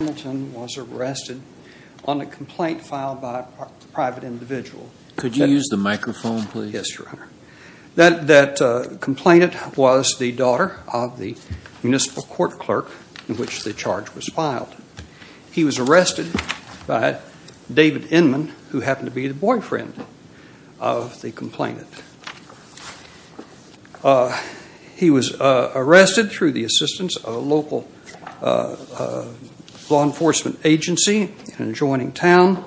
Hamilton was arrested on a complaint filed by a private individual. That complainant was the daughter of the municipal court clerk in which the charge was filed. He was arrested by David Inman, who happened to be the boyfriend of the complainant. He was arrested through the assistance of a local law enforcement agency in an adjoining town.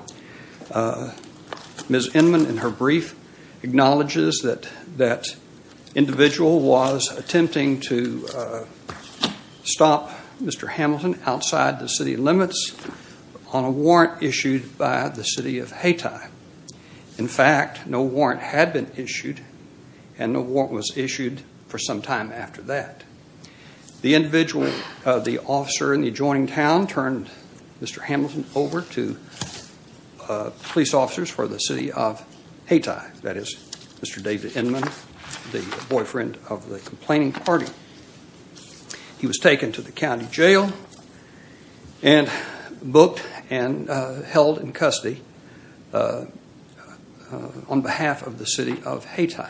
Ms. Inman, in her brief, acknowledges that that individual was attempting to stop Mr. Hamilton outside the city limits on a warrant issued by the City of Hayti. In fact, no warrant had been issued and no warrant was issued for some time after that. The individual, the officer in the adjoining town, turned Mr. Hamilton over to police officers for the City of Hayti. That is, Mr. David Inman, the boyfriend of the complaining party. He was taken to the county jail and booked and held in custody on behalf of the City of Hayti.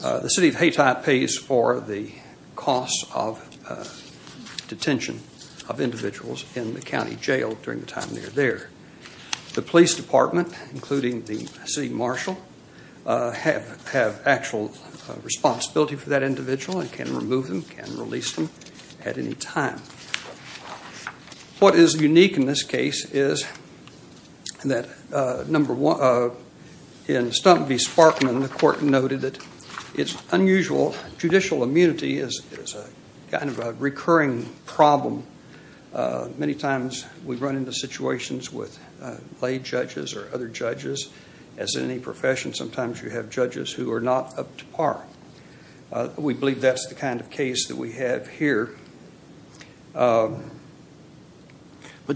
The City of Hayti pays for the costs of detention of individuals in the county jail during the time they are there. The police department, including the city marshal, have actual responsibility for that individual and can remove them, can release them at any time. What is unique in this case is that in Stump v. Sparkman, the court noted that its unusual judicial immunity is kind of a recurring problem. Many times we run into situations with lay judges or other judges. As in any profession, sometimes you have judges who are not up to par. We believe that's the kind of case that we have here. But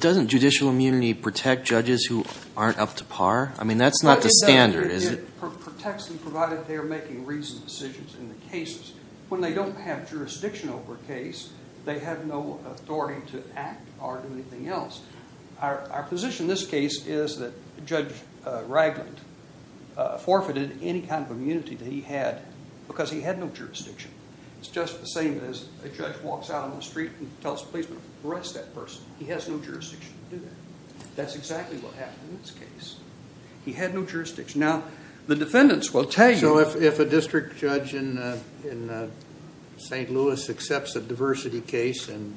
doesn't judicial immunity protect judges who aren't up to par? I mean, that's not the standard, is it? It protects them provided they are making reasoned decisions in the cases. When they don't have jurisdiction over a case, they have no authority to act or do anything else. Our position in this case is that Judge Ragland forfeited any kind of immunity that he had because he had no jurisdiction. It's just the same as a judge walks out on the street and tells a policeman, arrest that person. He has no jurisdiction to do that. That's exactly what happened in this case. He had no jurisdiction. So if a district judge in St. Louis accepts a diversity case and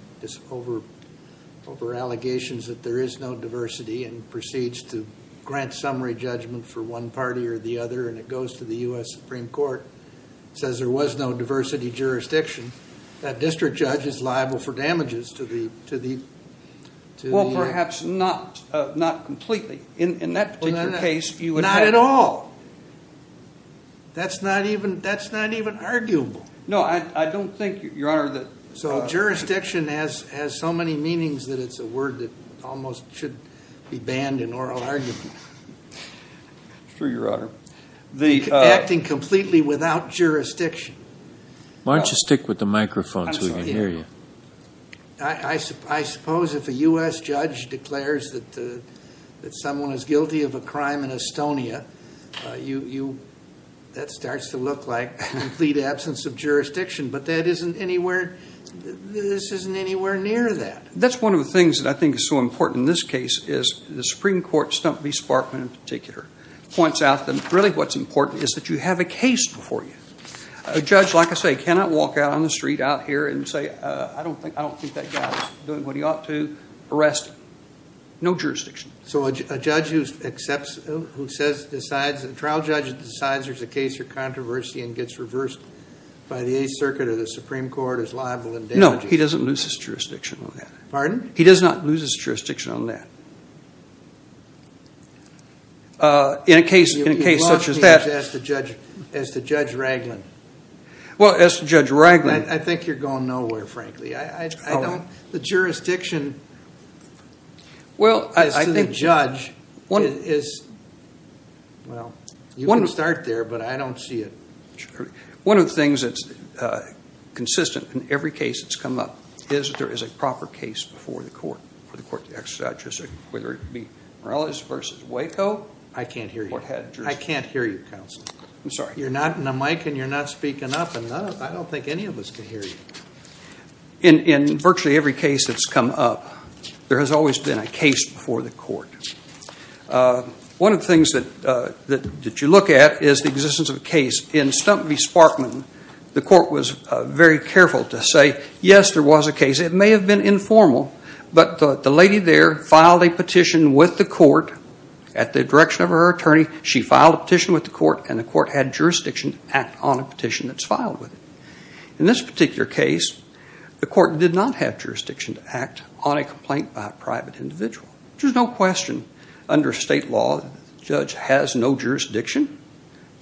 over-allegations that there is no diversity and proceeds to grant summary judgment for one party or the other and it goes to the U.S. Supreme Court, says there was no diversity jurisdiction, that district judge is liable for damages to the... Well, perhaps not completely. In that particular case, you would have... Not at all. That's not even arguable. No, I don't think, Your Honor, that... So jurisdiction has so many meanings that it's a word that almost should be banned in oral argument. It's true, Your Honor. Acting completely without jurisdiction. Why don't you stick with the microphone so we can hear you? I suppose if a U.S. judge declares that someone is guilty of a crime in Estonia, that starts to look like complete absence of jurisdiction. But that isn't anywhere... This isn't anywhere near that. That's one of the things that I think is so important in this case is the Supreme Court, Stump v. Sparkman in particular, points out that really what's important is that you have a case before you. A judge, like I say, cannot walk out on the street out here and say, I don't think that guy is doing what he ought to, arrest him. No jurisdiction. So a judge who accepts, who says, decides, a trial judge who decides there's a case for controversy and gets reversed by the Eighth Circuit or the Supreme Court is liable in damages... No, he doesn't lose his jurisdiction on that. Pardon? He does not lose his jurisdiction on that. In a case such as that... As to Judge Ragland... Well, as to Judge Ragland... I think you're going nowhere, frankly. I don't... The jurisdiction... Well, I think... As to the judge, it is... Well, you can start there, but I don't see it... One of the things that's consistent in every case that's come up is that there is a proper case before the court, for the court to exercise jurisdiction, whether it be Morales v. Waco... I can't hear you. I can't hear you, counsel. I'm sorry. You're not in a mic and you're not speaking up, and I don't think any of us can hear you. In virtually every case that's come up, there has always been a case before the court. One of the things that you look at is the existence of a case. In Stump v. Sparkman, the court was very careful to say, yes, there was a case. It may have been informal, but the lady there filed a petition with the court at the direction of her attorney. She filed a petition with the court, and the court had jurisdiction to act on a petition that's filed with it. In this particular case, the court did not have jurisdiction to act on a complaint by a private individual, which is no question. Under state law, the judge has no jurisdiction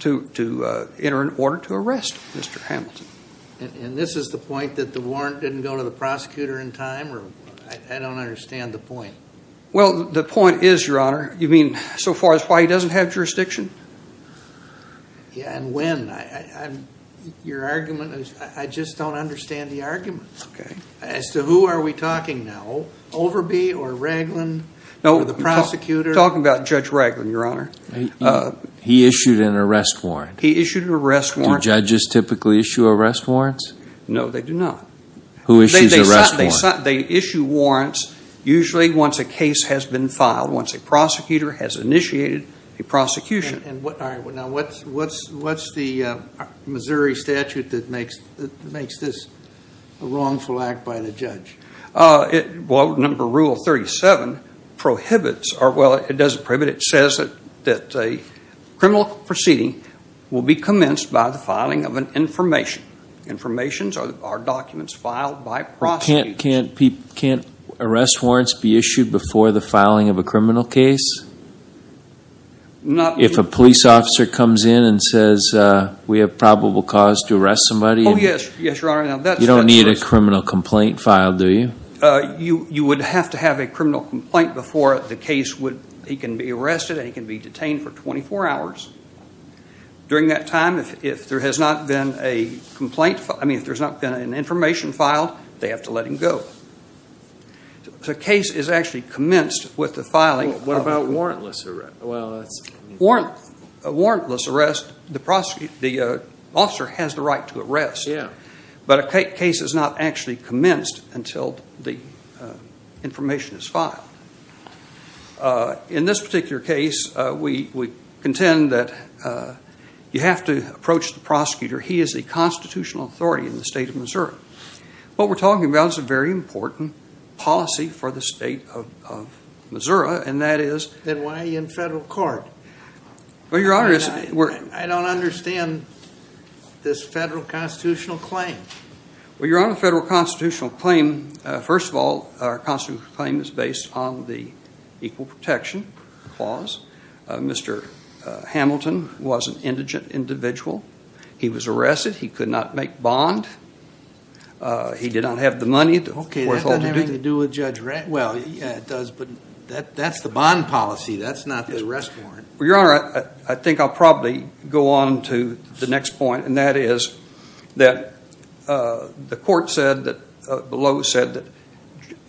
to enter an order to arrest Mr. Hamilton. And this is the point that the warrant didn't go to the prosecutor in time? I don't understand the point. Well, the point is, Your Honor, You mean so far as why he doesn't have jurisdiction? Yeah, and when? Your argument is I just don't understand the argument. Okay. As to who are we talking now, Overby or Raglin or the prosecutor? We're talking about Judge Raglin, Your Honor. He issued an arrest warrant. He issued an arrest warrant. Do judges typically issue arrest warrants? No, they do not. Who issues arrest warrants? They issue warrants usually once a case has been filed, once a prosecutor has initiated a prosecution. All right. Now, what's the Missouri statute that makes this a wrongful act by the judge? Well, number rule 37 prohibits or, well, it doesn't prohibit. It says that a criminal proceeding will be commenced by the filing of an information. Informations are documents filed by prosecutors. Can't arrest warrants be issued before the filing of a criminal case? If a police officer comes in and says we have probable cause to arrest somebody? Oh, yes. Yes, Your Honor. You don't need a criminal complaint filed, do you? You would have to have a criminal complaint before the case would, he can be arrested and he can be detained for 24 hours. During that time, if there has not been an information filed, they have to let him go. The case is actually commenced with the filing. What about warrantless arrest? Warrantless arrest, the officer has the right to arrest. Yes. But a case is not actually commenced until the information is filed. In this particular case, we contend that you have to approach the prosecutor. He is a constitutional authority in the state of Missouri. What we're talking about is a very important policy for the state of Missouri, and that is- Then why are you in federal court? Well, Your Honor- I don't understand this federal constitutional claim. Well, Your Honor, federal constitutional claim, first of all, our constitutional claim is based on the Equal Protection Clause. Mr. Hamilton was an indigent individual. He was arrested. He could not make bond. He did not have the money- Okay, that doesn't have anything to do with Judge Ratner. Well, yeah, it does, but that's the bond policy. That's not the arrest warrant. Well, Your Honor, I think I'll probably go on to the next point, and that is that the court below said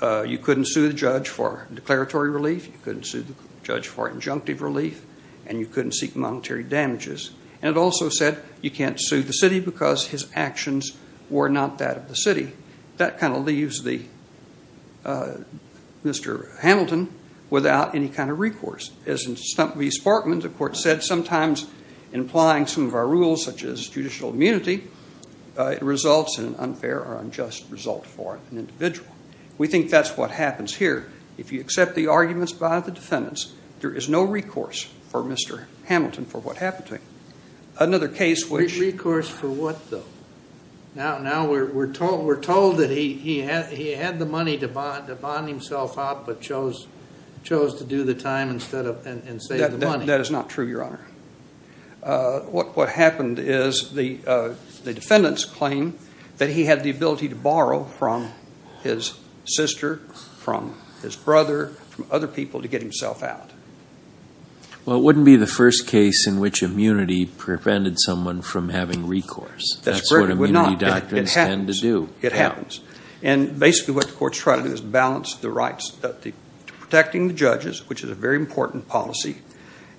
that you couldn't sue the judge for declaratory relief. You couldn't sue the judge for injunctive relief, and you couldn't seek monetary damages. And it also said you can't sue the city because his actions were not that of the city. That kind of leaves Mr. Hamilton without any kind of recourse. As in Stump v. Sparkman, the court said sometimes in applying some of our rules, such as judicial immunity, it results in an unfair or unjust result for an individual. We think that's what happens here. If you accept the arguments by the defendants, there is no recourse for Mr. Hamilton for what happened to him. Another case which- Recourse for what, though? Now we're told that he had the money to bond himself out but chose to do the time instead of and save the money. That is not true, Your Honor. What happened is the defendants claim that he had the ability to borrow from his sister, from his brother, from other people to get himself out. Well, it wouldn't be the first case in which immunity prevented someone from having recourse. That's what immunity doctrines tend to do. It happens. And basically what the court's trying to do is balance the rights to protecting the judges, which is a very important policy,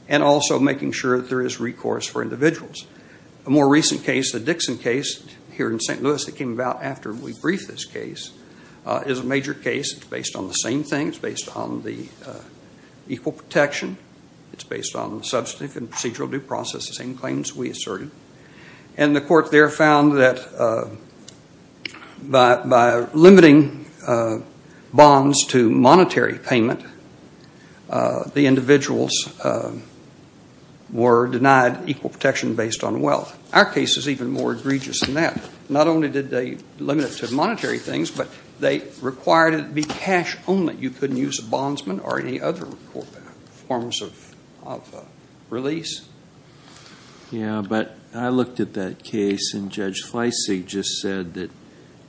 and also making sure that there is recourse for individuals. A more recent case, the Dixon case here in St. Louis that came about after we briefed this case, is a major case. It's based on the same thing. It's based on the equal protection. It's based on substantive and procedural due process, the same claims we asserted. And the court there found that by limiting bonds to monetary payment, the individuals were denied equal protection based on wealth. Our case is even more egregious than that. Not only did they limit it to monetary things, but they required it to be cash only. You couldn't use a bondsman or any other forms of release. Yeah, but I looked at that case, and Judge Fleissig just said that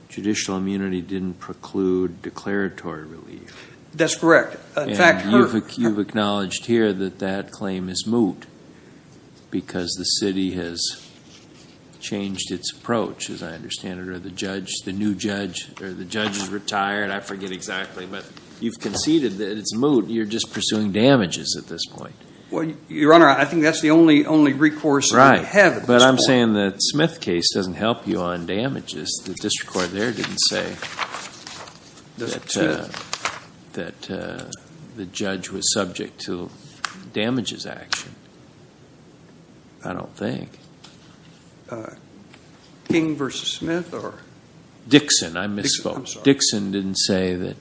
judicial immunity didn't preclude declaratory relief. That's correct. And you've acknowledged here that that claim is moot because the city has changed its approach, as I understand it, or the judge, the new judge, or the judge is retired. I forget exactly, but you've conceded that it's moot. You're just pursuing damages at this point. Your Honor, I think that's the only recourse we have at this point. Right, but I'm saying the Smith case doesn't help you on damages. The district court there didn't say that the judge was subject to damages action, I don't think. King v. Smith or? Dixon, I misspoke. Dixon, I'm sorry.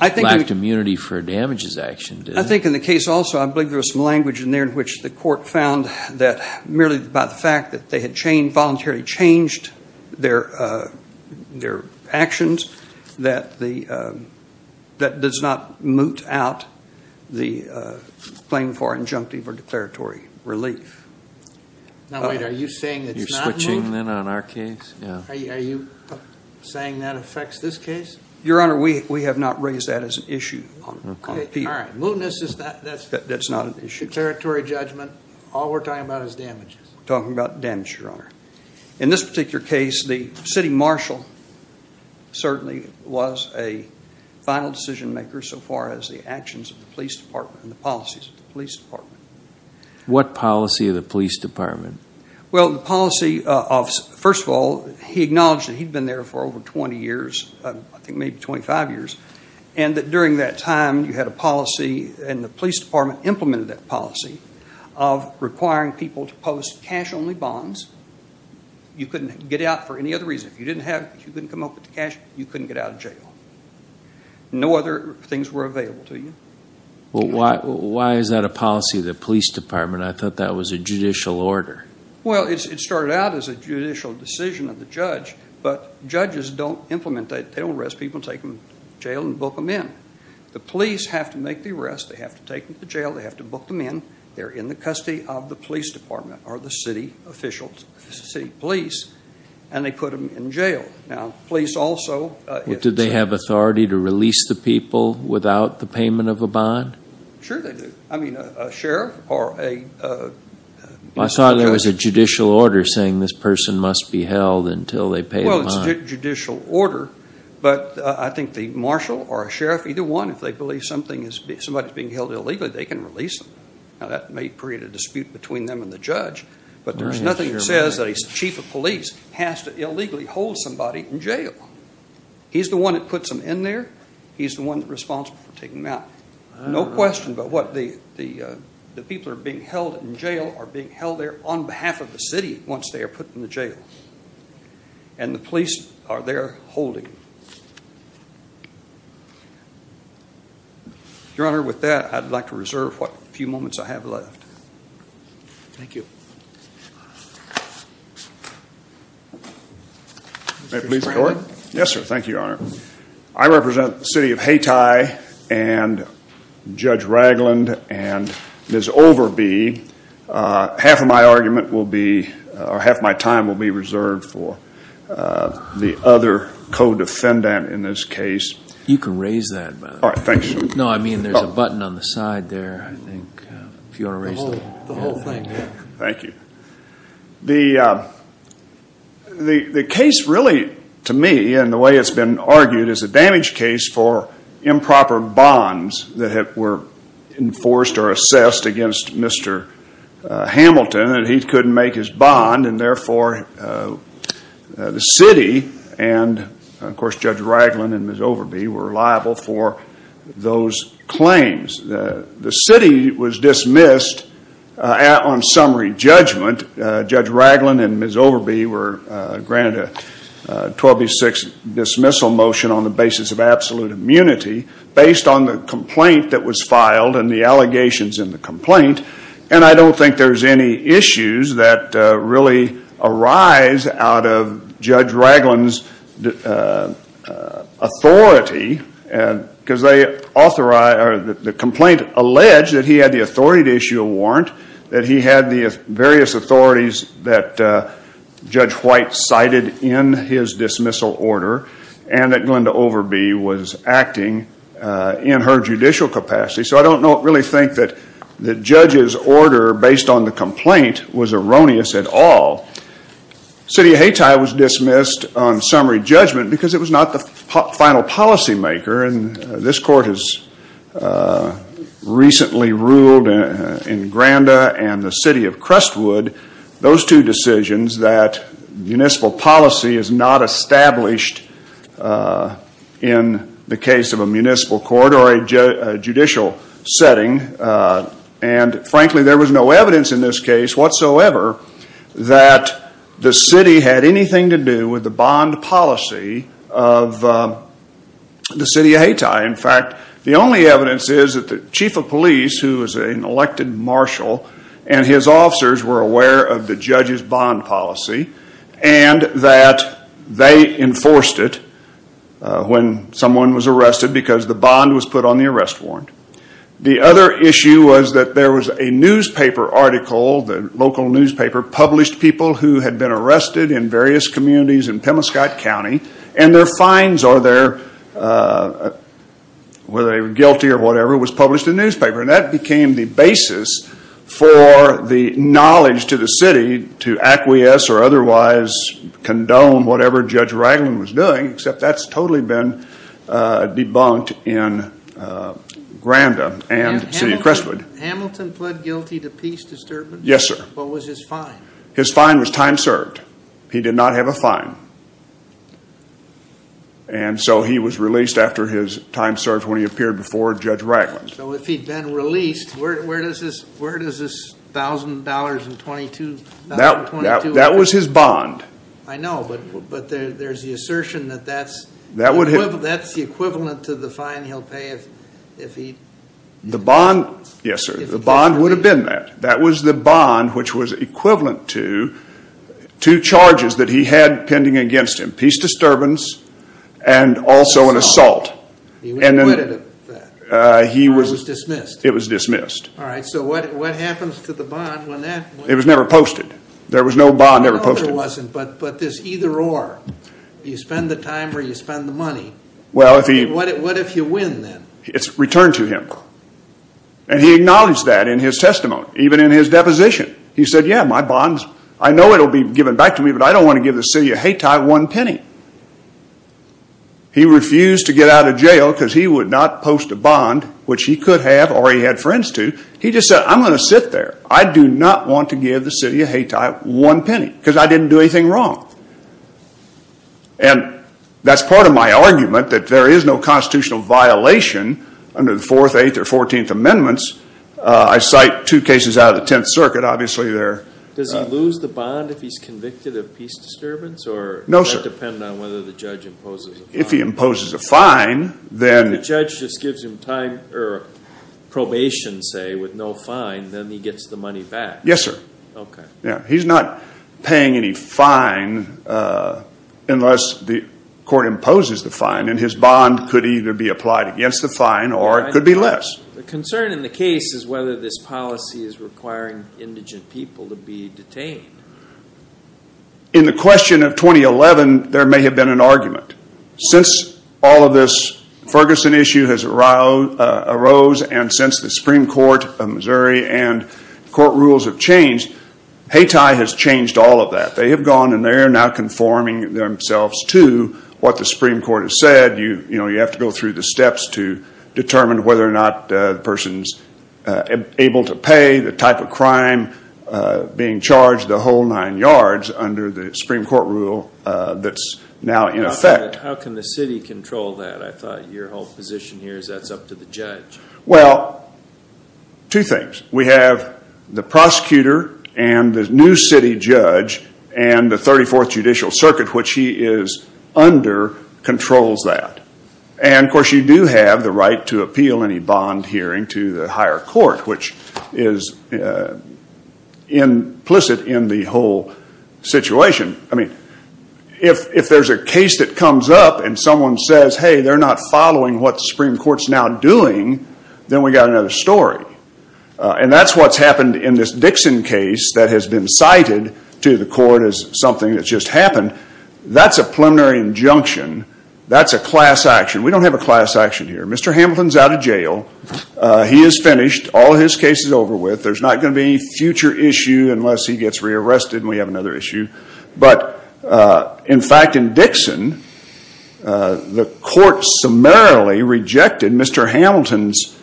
I think in the case also, I believe there was some language in there in which the court found that merely by the fact that they had voluntarily changed their actions, that does not moot out the claim for injunctive or declaratory relief. Now, wait, are you saying it's not moot? You're switching then on our case? Are you saying that affects this case? Your Honor, we have not raised that as an issue. All right, mootness, that's not an issue. Declaratory judgment, all we're talking about is damages. We're talking about damages, Your Honor. In this particular case, the city marshal certainly was a final decision maker so far as the actions of the police department and the policies of the police department. What policy of the police department? Well, the policy of, first of all, he acknowledged that he'd been there for over 20 years, I think maybe 25 years, and that during that time you had a policy and the police department implemented that policy of requiring people to post cash only bonds. You couldn't get out for any other reason. If you didn't come up with the cash, you couldn't get out of jail. No other things were available to you. Why is that a policy of the police department? I thought that was a judicial order. Well, it started out as a judicial decision of the judge, but judges don't implement that. They don't arrest people and take them to jail and book them in. The police have to make the arrest. They have to take them to jail. They have to book them in. They're in the custody of the police department or the city officials, the city police, and they put them in jail. Now, police also- Do they have authority to release the people without the payment of a bond? Sure they do. I mean, a sheriff or a- I thought there was a judicial order saying this person must be held until they pay the bond. Well, it's a judicial order, but I think the marshal or a sheriff, either one, if they believe somebody is being held illegally, they can release them. Now, that may create a dispute between them and the judge, but there's nothing that says that a chief of police has to illegally hold somebody in jail. He's the one that puts them in there. He's the one that's responsible for taking them out. No question, but what the people are being held in jail are being held there on behalf of the city once they are put in the jail, and the police are there holding them. Your Honor, with that, I'd like to reserve what few moments I have left. Thank you. May I please record? Yes, sir. Thank you, Your Honor. I represent the city of Hayti and Judge Ragland and Ms. Overby. Half of my argument will be, or half my time will be reserved for the other co-defendant in this case. You can raise that, by the way. All right, thanks. No, I mean there's a button on the side there, I think, if you want to raise that. The whole thing, yeah. Thank you. The case really, to me, and the way it's been argued, is a damage case for improper bonds that were enforced or assessed against Mr. Hamilton, and he couldn't make his bond, and therefore the city and, of course, Judge Ragland and Ms. Overby were liable for those claims. The city was dismissed on summary judgment. Judge Ragland and Ms. Overby were granted a 12-6 dismissal motion on the basis of absolute immunity based on the complaint that was filed and the allegations in the complaint, and I don't think there's any issues that really arise out of Judge Ragland's authority because the complaint alleged that he had the authority to issue a warrant, that he had the various authorities that Judge White cited in his dismissal order, and that Glenda Overby was acting in her judicial capacity, so I don't really think that the judge's order based on the complaint was erroneous at all. City of Hayti was dismissed on summary judgment because it was not the final policymaker, and this court has recently ruled in Granda and the city of Crestwood, those two decisions that municipal policy is not established in the case of a municipal court or a judicial setting, and frankly there was no evidence in this case whatsoever that the city had anything to do with the bond policy of the city of Hayti. In fact, the only evidence is that the chief of police, who was an elected marshal, and his officers were aware of the judge's bond policy and that they enforced it when someone was arrested because the bond was put on the arrest warrant. The other issue was that there was a newspaper article, the local newspaper, published people who had been arrested in various communities in Pemiscott County, and their fines or whether they were guilty or whatever was published in the newspaper, and that became the basis for the knowledge to the city to acquiesce or otherwise condone whatever Judge Ragland was doing, except that's totally been debunked in Granda and the city of Crestwood. Hamilton pled guilty to peace disturbance? Yes, sir. What was his fine? His fine was time served. He did not have a fine, and so he was released after his time served when he appeared before Judge Ragland. So if he'd been released, where does this $1,000 and $1,222? That was his bond. I know, but there's the assertion that that's the equivalent to the fine he'll pay if he's released. Yes, sir. The bond would have been that. That was the bond which was equivalent to two charges that he had pending against him, peace disturbance and also an assault. He was acquitted of that. He was dismissed. It was dismissed. All right, so what happens to the bond when that was? It was never posted. There was no bond ever posted. No, there wasn't, but this either-or, you spend the time or you spend the money. What if you win, then? It's returned to him, and he acknowledged that in his testimony, even in his deposition. He said, yeah, my bond, I know it'll be given back to me, but I don't want to give the city of Hayti one penny. He refused to get out of jail because he would not post a bond, which he could have or he had friends to. He just said, I'm going to sit there. I do not want to give the city of Hayti one penny because I didn't do anything wrong. And that's part of my argument that there is no constitutional violation under the Fourth, Eighth, or Fourteenth Amendments. I cite two cases out of the Tenth Circuit. Obviously, they're- Does he lose the bond if he's convicted of peace disturbance or- No, sir. Does that depend on whether the judge imposes a fine? If he imposes a fine, then- If the judge just gives him probation, say, with no fine, then he gets the money back. Yes, sir. Okay. He's not paying any fine unless the court imposes the fine, and his bond could either be applied against the fine or it could be less. The concern in the case is whether this policy is requiring indigent people to be detained. In the question of 2011, there may have been an argument. Since all of this Ferguson issue has arose and since the Supreme Court of Missouri and court rules have changed, Hayti has changed all of that. They have gone and they are now conforming themselves to what the Supreme Court has said. You have to go through the steps to determine whether or not the person's able to pay the type of crime being charged, the whole nine yards under the Supreme Court rule that's now in effect. How can the city control that? I thought your whole position here is that's up to the judge. Well, two things. We have the prosecutor and the new city judge and the 34th Judicial Circuit, which he is under, controls that. And, of course, you do have the right to appeal any bond hearing to the higher court, which is implicit in the whole situation. If there's a case that comes up and someone says, hey, they're not following what the Supreme Court's now doing, then we've got another story. And that's what's happened in this Dixon case that has been cited to the court as something that's just happened. That's a preliminary injunction. That's a class action. We don't have a class action here. Mr. Hamilton's out of jail. He is finished. All his case is over with. There's not going to be any future issue unless he gets rearrested and we have another issue. But, in fact, in Dixon, the court summarily rejected Mr. Hamilton's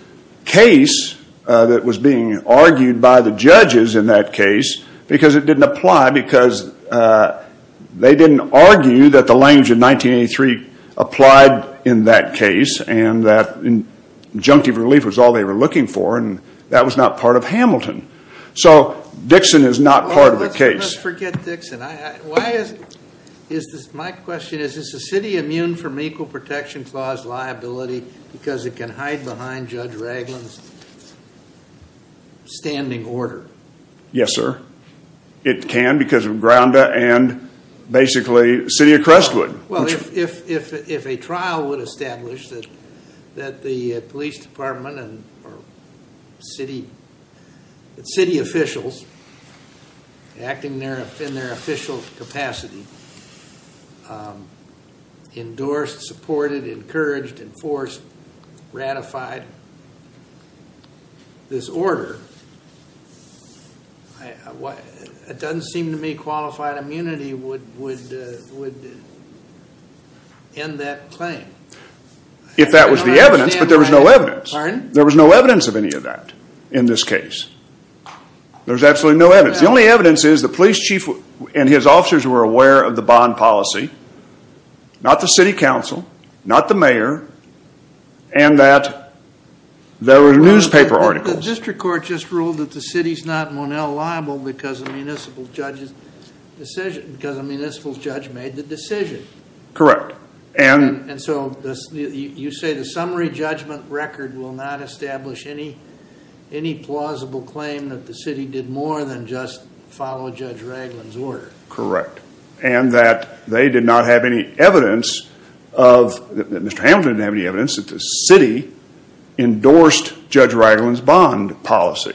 case that was being argued by the judges in that case because it didn't apply because they didn't argue that the language of 1983 applied in that case and that injunctive relief was all they were looking for. And that was not part of Hamilton. So Dixon is not part of the case. Let's forget Dixon. My question is, is the city immune from Equal Protection Clause liability because it can hide behind Judge Ragland's standing order? Yes, sir. It can because of Grounda and basically City of Crestwood. Well, if a trial would establish that the police department and city officials, acting in their official capacity, endorsed, supported, encouraged, enforced, ratified this order, it doesn't seem to me qualified immunity would end that claim. If that was the evidence, but there was no evidence. There was no evidence of any of that in this case. There's absolutely no evidence. The only evidence is the police chief and his officers were aware of the bond policy, not the city council, not the mayor, and that there were newspaper articles. The district court just ruled that the city's not Monell liable because the municipal judge made the decision. Correct. And so you say the summary judgment record will not establish any plausible claim that the city did more than just follow Judge Ragland's order. Correct. And that they did not have any evidence, that Mr. Hamilton didn't have any evidence, that the city endorsed Judge Ragland's bond policy.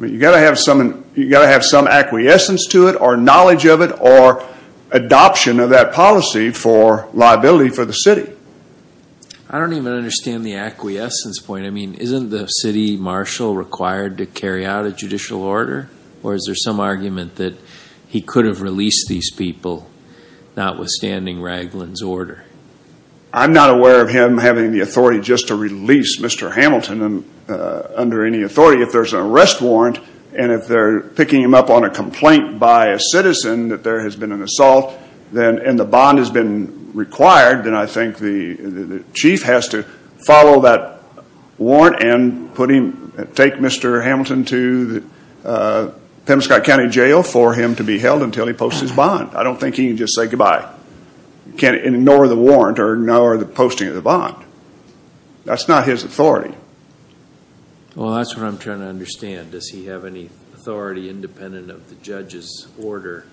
You've got to have some acquiescence to it or knowledge of it or adoption of that policy for liability for the city. I don't even understand the acquiescence point. I mean, isn't the city marshal required to carry out a judicial order, or is there some argument that he could have released these people notwithstanding Ragland's order? I'm not aware of him having the authority just to release Mr. Hamilton under any authority. If there's an arrest warrant and if they're picking him up on a complaint by a citizen that there has been an assault and the bond has been required, then I think the chief has to follow that warrant and take Mr. Hamilton to Pemscott County Jail for him to be held until he posts his bond. I don't think he can just say goodbye. He can't ignore the warrant or ignore the posting of the bond. That's not his authority. Well, that's what I'm trying to understand. Does he have any authority independent of the judge's order?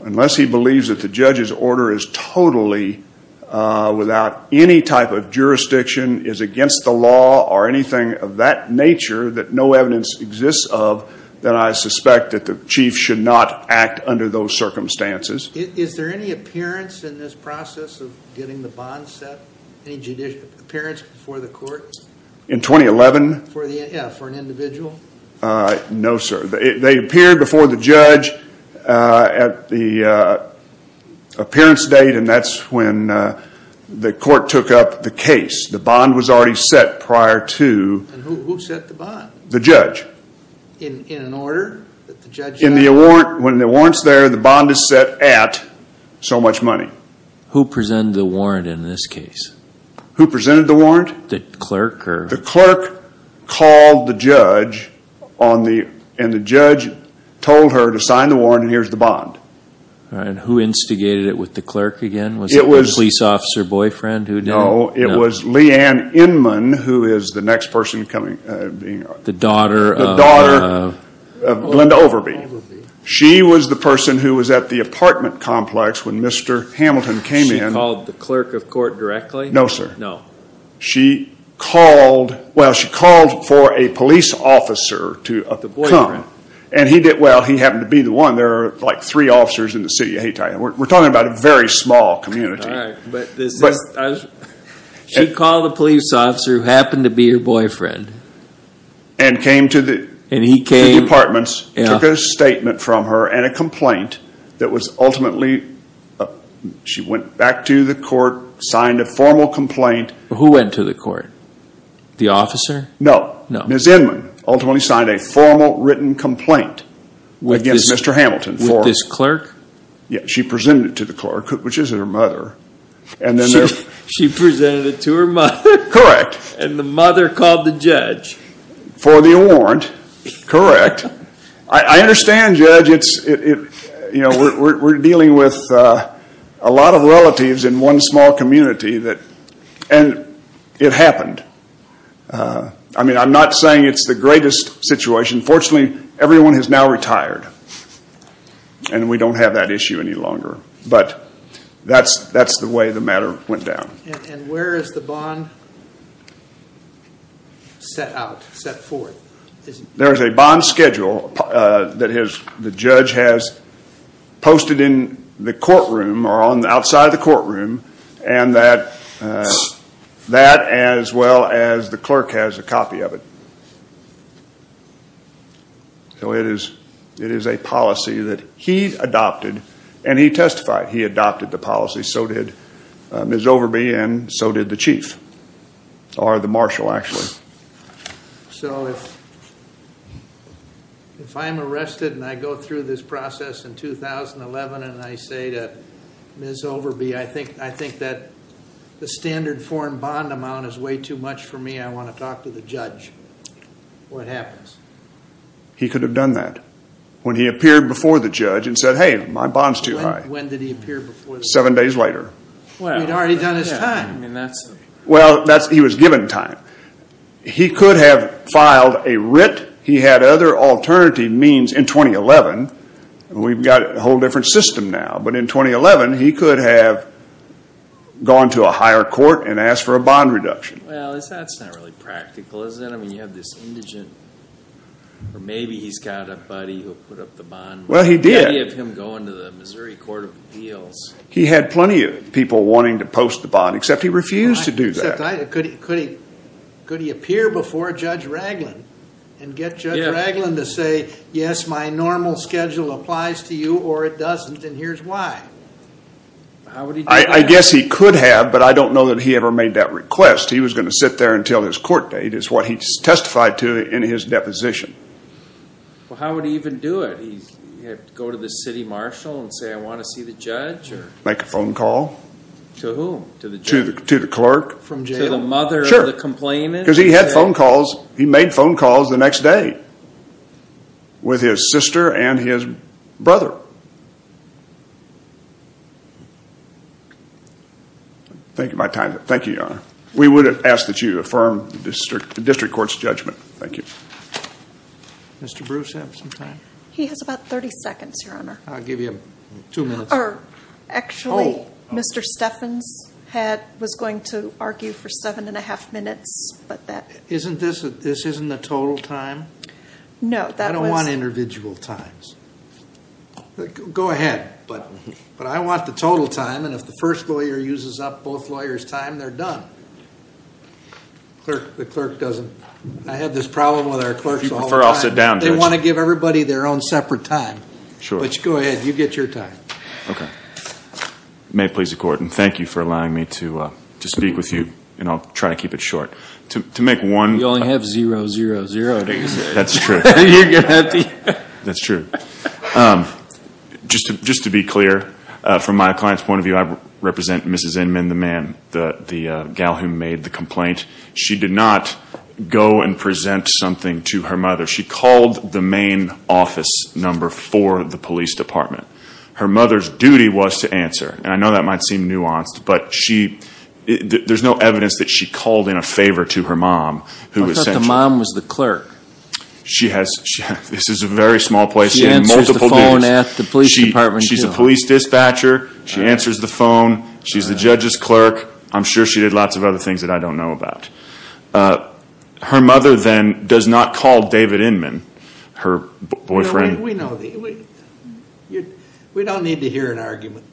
Unless he believes that the judge's order is totally without any type of jurisdiction, is against the law or anything of that nature that no evidence exists of, then I suspect that the chief should not act under those circumstances. Is there any appearance in this process of getting the bond set? Any appearance before the court? In 2011? Yeah, for an individual? No, sir. They appeared before the judge at the appearance date and that's when the court took up the case. The bond was already set prior to... Who set the bond? The judge. In an order? When the warrant's there, the bond is set at so much money. Who presented the warrant in this case? Who presented the warrant? The clerk? The clerk called the judge and the judge told her to sign the warrant and here's the bond. Who instigated it with the clerk again? Was it the police officer boyfriend who did it? No, it was Leanne Inman who is the next person coming. The daughter of? The daughter of Glenda Overby. She was the person who was at the apartment complex when Mr. Hamilton came in. She called the clerk of court directly? No, sir. She called for a police officer to come. The boyfriend. Well, he happened to be the one. There are like three officers in the city of Hayti. We're talking about a very small community. She called the police officer who happened to be her boyfriend. And came to the apartments, took a statement from her and a complaint that was ultimately, she went back to the court, signed a formal complaint. Who went to the court? The officer? No. Ms. Inman ultimately signed a formal written complaint against Mr. Hamilton. With this clerk? Yes, she presented it to the clerk, which is her mother. She presented it to her mother? Correct. And the mother called the judge? For the warrant. Correct. I understand, Judge. We're dealing with a lot of relatives in one small community. And it happened. I'm not saying it's the greatest situation. Fortunately, everyone has now retired. And we don't have that issue any longer. But that's the way the matter went down. And where is the bond set out, set forth? There's a bond schedule that the judge has posted in the courtroom or outside the courtroom. And that as well as the clerk has a copy of it. So it is a policy that he adopted and he testified he adopted the policy. So did Ms. Overby and so did the chief, or the marshal actually. So if I'm arrested and I go through this process in 2011 and I say to Ms. Overby, I think that the standard foreign bond amount is way too much for me. I want to talk to the judge. What happens? He could have done that. When he appeared before the judge and said, hey, my bond's too high. When did he appear before the judge? Seven days later. He'd already done his time. Well, he was given time. He could have filed a writ. He had other alternative means in 2011. We've got a whole different system now. But in 2011, he could have gone to a higher court and asked for a bond reduction. Well, that's not really practical, is it? I mean, you have this indigent, or maybe he's got a buddy who put up the bond. Well, he did. Many of him go into the Missouri Court of Appeals. He had plenty of people wanting to post the bond, except he refused to do that. Except could he appear before Judge Raglin and get Judge Raglin to say, yes, my normal schedule applies to you, or it doesn't, and here's why. I guess he could have, but I don't know that he ever made that request. He was going to sit there until his court date is what he testified to in his deposition. Well, how would he even do it? Go to the city marshal and say, I want to see the judge? Make a phone call. To whom? To the clerk. To the mother of the complainant? Because he had phone calls. He made phone calls the next day with his sister and his brother. Thank you, Your Honor. We would ask that you affirm the district court's judgment. Thank you. Mr. Bruce, do you have some time? He has about 30 seconds, Your Honor. I'll give you two minutes. Actually, Mr. Steffens was going to argue for seven and a half minutes. This isn't the total time? No. I don't want individual times. Go ahead. But I want the total time, and if the first lawyer uses up both lawyers' time, they're done. The clerk doesn't. I have this problem with our clerks all the time. If you prefer, I'll sit down, Judge. They want to give everybody their own separate time. Sure. Go ahead. You get your time. May it please the Court, and thank you for allowing me to speak with you. I'll try to keep it short. You only have zero, zero, zero. That's true. That's true. Just to be clear, from my client's point of view, I represent Mrs. Inman, the gal who made the complaint. She did not go and present something to her mother. She called the main office number for the police department. Her mother's duty was to answer, and I know that might seem nuanced, but there's no evidence that she called in a favor to her mom. I thought the mom was the clerk. This is a very small place. She answers the phone at the police department, too. She's a police dispatcher. She answers the phone. She's the judge's clerk. I'm sure she did lots of other things that I don't know about. Her mother, then, does not call David Inman, her boyfriend. We know. We don't need to hear an argument.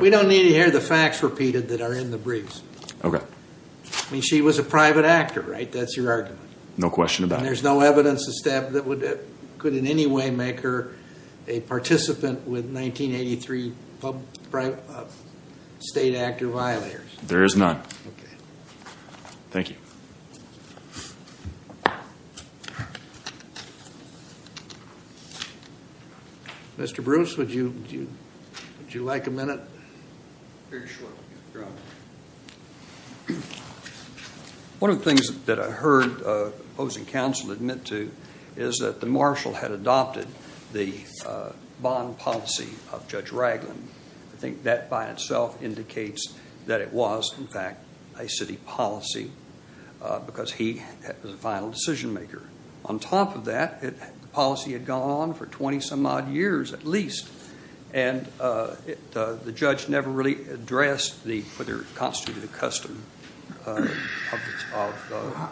We don't need to hear the facts repeated that are in the briefs. She was a private actor, right? That's your argument. No question about it. There's no evidence that could in any way make her a participant with 1983 state actor violators. There is none. Okay. Thank you. Mr. Bruce, would you like a minute? Very shortly, Your Honor. One of the things that I heard opposing counsel admit to is that the marshal had adopted the bond policy of Judge Ragland. I think that by itself indicates that it was, in fact, a city policy because he was a final decision maker. On top of that, the policy had gone on for 20 some odd years at least, and the judge never really addressed whether it constituted a custom of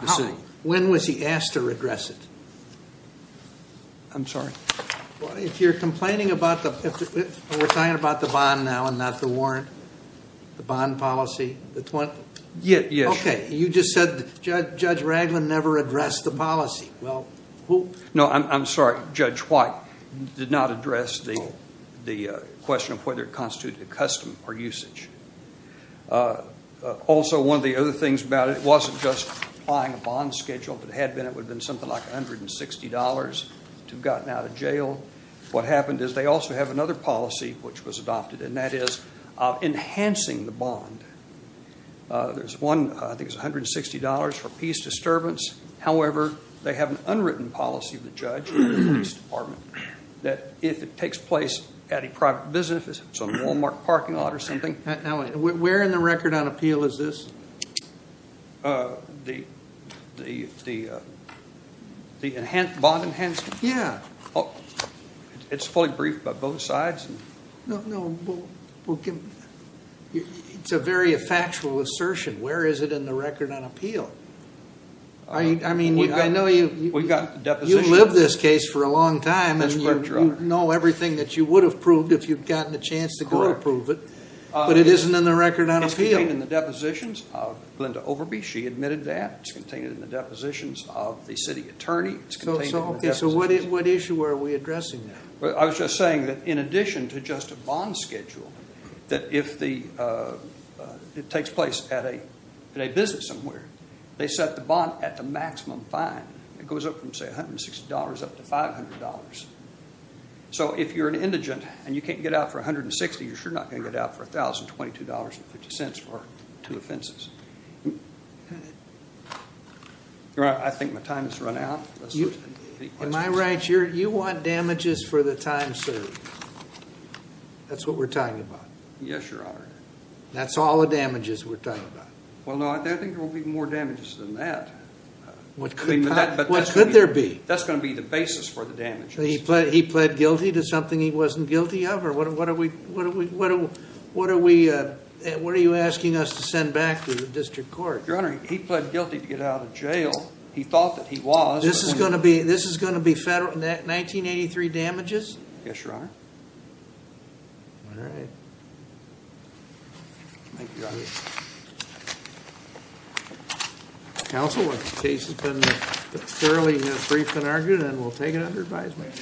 the city. When was he asked to regress it? I'm sorry. We're talking about the bond now and not the warrant? The bond policy? Yes. Okay. You just said Judge Ragland never addressed the policy. No, I'm sorry. Judge White did not address the question of whether it constituted a custom or usage. Also, one of the other things about it, it wasn't just applying a bond schedule. If it had been, it would have been something like $160 to have gotten out of jail. What happened is they also have another policy which was adopted, and that is enhancing the bond. There's one, I think it's $160 for peace disturbance. However, they have an unwritten policy of the judge in the police department that if it takes place at a private business, if it's on a Walmart parking lot or something. Where in the record on appeal is this? The bond enhancement? Yeah. It's fully briefed by both sides? No. It's a very factual assertion. Where is it in the record on appeal? I mean, I know you've lived this case for a long time. That's correct, Your Honor. You know everything that you would have proved if you'd gotten a chance to go to prove it. But it isn't in the record on appeal. It's contained in the depositions of Linda Overby. She admitted that. It's contained in the depositions of the city attorney. So what issue are we addressing there? I was just saying that in addition to just a bond schedule, that if it takes place at a business somewhere, they set the bond at the maximum fine. It goes up from, say, $160 up to $500. So if you're an indigent and you can't get out for $160, you're sure not going to get out for $1,022.50 for two offenses. Your Honor, I think my time has run out. Am I right? You want damages for the time served. That's what we're talking about. Yes, Your Honor. That's all the damages we're talking about. Well, no, I think there will be more damages than that. What could there be? That's going to be the basis for the damages. He pled guilty to something he wasn't guilty of? Or what are you asking us to send back to the district court? Your Honor, he pled guilty to get out of jail. He thought that he was. This is going to be 1983 damages? Yes, Your Honor. All right. Thank you, Your Honor. Counsel, the case has been thoroughly briefed and argued, and we'll take it under advisement.